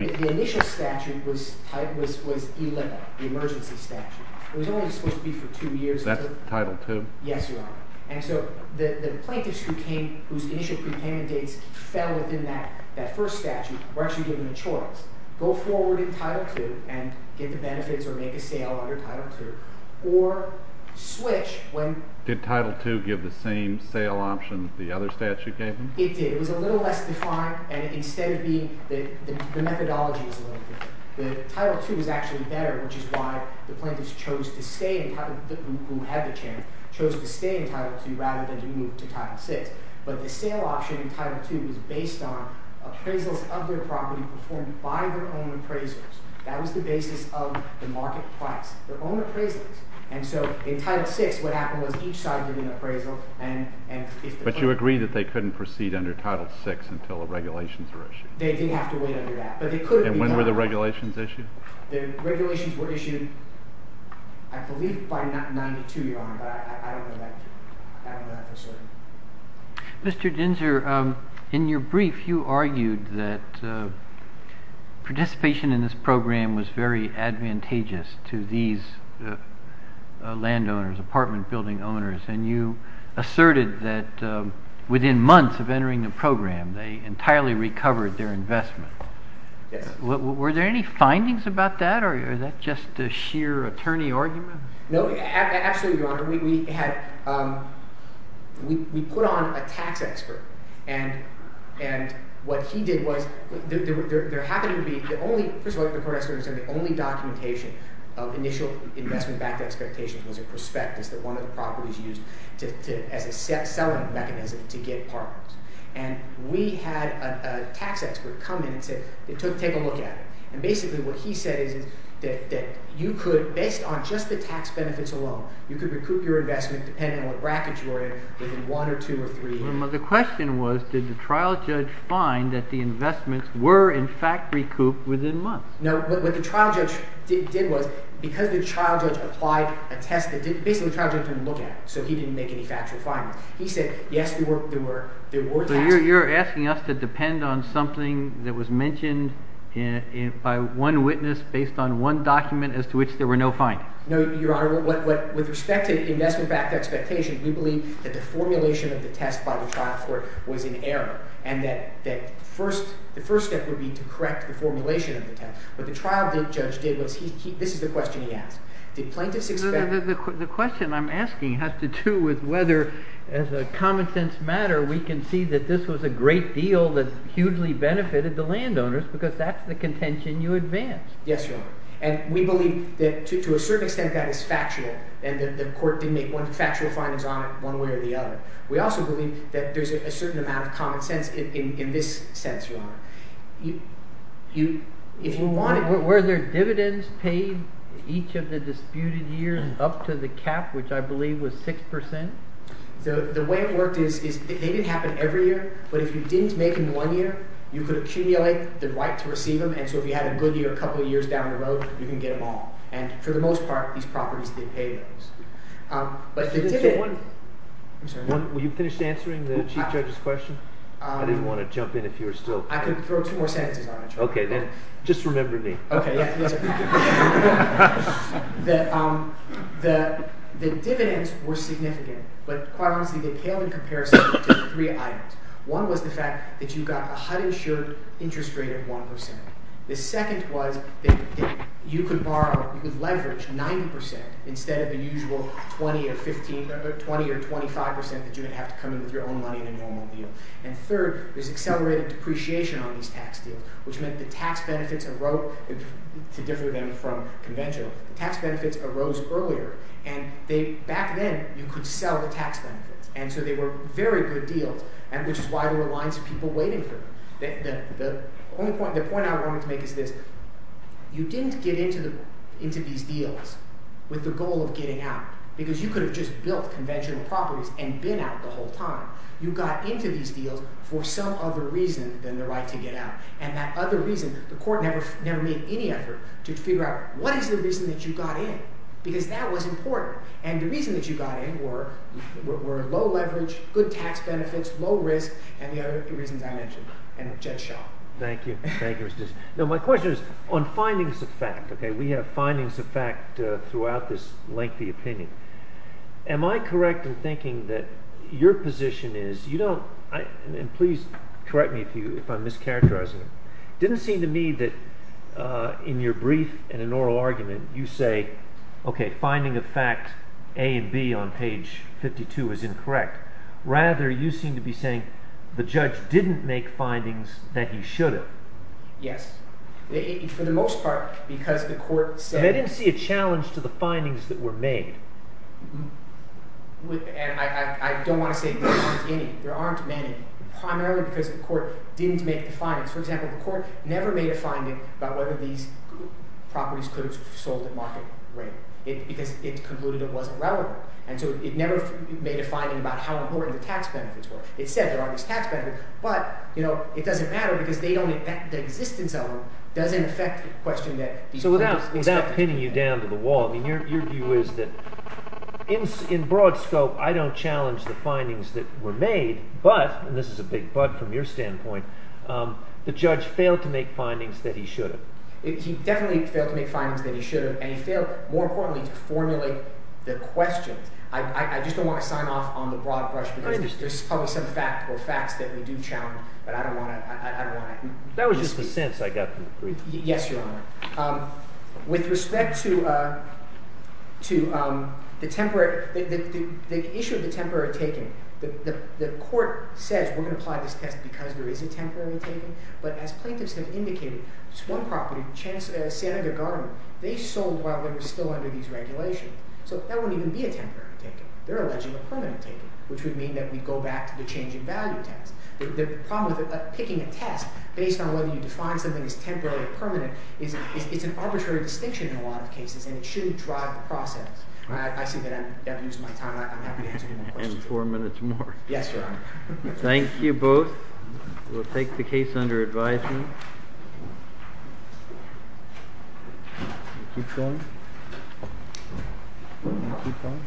The initial statute was ELIPA, the emergency statute. It was only supposed to be for two years until... That's Title II? Yes, Your Honor. And so, the plaintiffs whose initial prepayment dates fell within that first statute were actually given a choice. Go forward in Title II and get the benefits or make a sale under Title II. Or, switch when... Did Title II give the same sale option the other statute gave them? It did. It was a little less defined. The methodology is a little different. Title II is actually better, which is why the plaintiffs who had the chance chose to stay in Title II rather than to move to Title VI. But the sale option in Title II was based on appraisals of their property performed by their own appraisals. That was the basis of the market price. Their own appraisals. And so, in Title VI, what happened was each side did an appraisal and... Did you agree that they couldn't proceed under Title VI until the regulations were issued? They did have to wait under that. And when were the regulations issued? The regulations were issued, I believe, by 1992, Your Honor. But I don't know that for certain. Mr. Ginzer, in your brief, you argued that participation in this program was very advantageous to these landowners, apartment building owners. And you asserted that within months of entering the program, they entirely recovered their investment. Yes. Were there any findings about that, or is that just a sheer attorney argument? No, absolutely, Your Honor. We put on a tax expert, and what he did was there happened to be the only— first of all, the court experts said the only documentation of initial investment back to expectations was a prospectus that one of the properties used as a selling mechanism to get apartments. And we had a tax expert come in and say, take a look at it. And basically what he said is that you could, based on just the tax benefits alone, you could recoup your investment depending on what bracket you were in within one or two or three years. The question was, did the trial judge find that the investments were in fact recouped within months? No. What the trial judge did was, because the trial judge applied a test that basically the trial judge didn't look at, so he didn't make any factual findings, he said, yes, there were tax— So you're asking us to depend on something that was mentioned by one witness based on one document as to which there were no findings. No, Your Honor. With respect to investment back to expectation, we believe that the formulation of the test by the trial court was in error and that the first step would be to correct the formulation of the test. What the trial judge did was he—this is the question he asked. Did plaintiffs expect— The question I'm asking has to do with whether, as a common-sense matter, we can see that this was a great deal that hugely benefited the landowners because that's the contention you advance. Yes, Your Honor. And we believe that to a certain extent that is factual and that the court didn't make factual findings on it one way or the other. We also believe that there's a certain amount of common sense in this sense, Your Honor. If you want— Were their dividends paid each of the disputed years up to the cap, which I believe was 6 percent? The way it worked is they didn't happen every year, but if you didn't make them one year, you could accumulate the right to receive them, and so if you had a good year a couple of years down the road, you can get them all. And for the most part, these properties did pay those. But the dividends— Were you finished answering the Chief Judge's question? I didn't want to jump in if you were still— I could throw two more sentences on it, Your Honor. Okay. Then just remember me. Okay. Yes, sir. The dividends were significant, but quite honestly, they paled in comparison to three items. One was the fact that you got a HUD-insured interest rate of 1 percent. The second was that you could borrow—you could leverage 90 percent instead of the usual 20 or 15—20 or 25 percent that you would have to come in with your own money in a normal deal. And third, there's accelerated depreciation on these tax deals, which meant the tax benefits arose—to differ them from conventional—tax benefits arose earlier. And back then, you could sell the tax benefits, and so they were very good deals, which is why there were lines of people waiting for them. The point I wanted to make is this. You didn't get into these deals with the goal of getting out because you could have just built conventional properties and been out the whole time. You got into these deals for some other reason than the right to get out. And that other reason—the court never made any effort to figure out what is the reason that you got in because that was important. And the reason that you got in were low leverage, good tax benefits, low risk, and the other reasons I mentioned. And Judge Shaw. Thank you. Thank you, Mr. Dixon. Now, my question is on findings of fact. We have findings of fact throughout this lengthy opinion. Am I correct in thinking that your position is—you don't—and please correct me if I'm mischaracterizing it. It didn't seem to me that in your brief and in an oral argument you say, okay, finding of fact A and B on page 52 is incorrect. Rather, you seem to be saying the judge didn't make findings that he should have. Yes. For the most part, because the court said— And they didn't see a challenge to the findings that were made. And I don't want to say there aren't any. There aren't many, primarily because the court didn't make the findings. For example, the court never made a finding about whether these properties could have sold at market rate because it concluded it wasn't relevant. And so it never made a finding about how important the tax benefits were. It said there are these tax benefits, but it doesn't matter because they don't—the existence of them doesn't affect the question that these— So without pinning you down to the wall, I mean your view is that in broad scope, I don't challenge the findings that were made. But—and this is a big but from your standpoint—the judge failed to make findings that he should have. He definitely failed to make findings that he should have, and he failed, more importantly, to formulate the questions. I just don't want to sign off on the broad brush because there's probably some fact or facts that we do challenge, but I don't want to— That was just the sense I got from the brief. Yes, Your Honor. With respect to the temporary—the issue of the temporary taking, the court says we're going to apply this test because there is a temporary taking. But as plaintiffs have indicated, just one property, San Aguilar Garden, they sold while they were still under these regulations. So that wouldn't even be a temporary taking. They're alleging a permanent taking, which would mean that we go back to the change in value test. The problem with picking a test based on whether you define something as temporary or permanent is it's an arbitrary distinction in a lot of cases, and it shouldn't drive the process. I see that I'm using my time. I'm happy to answer any more questions. And four minutes more. Yes, Your Honor. Thank you both. We'll take the case under advisement. You keep going. You keep going.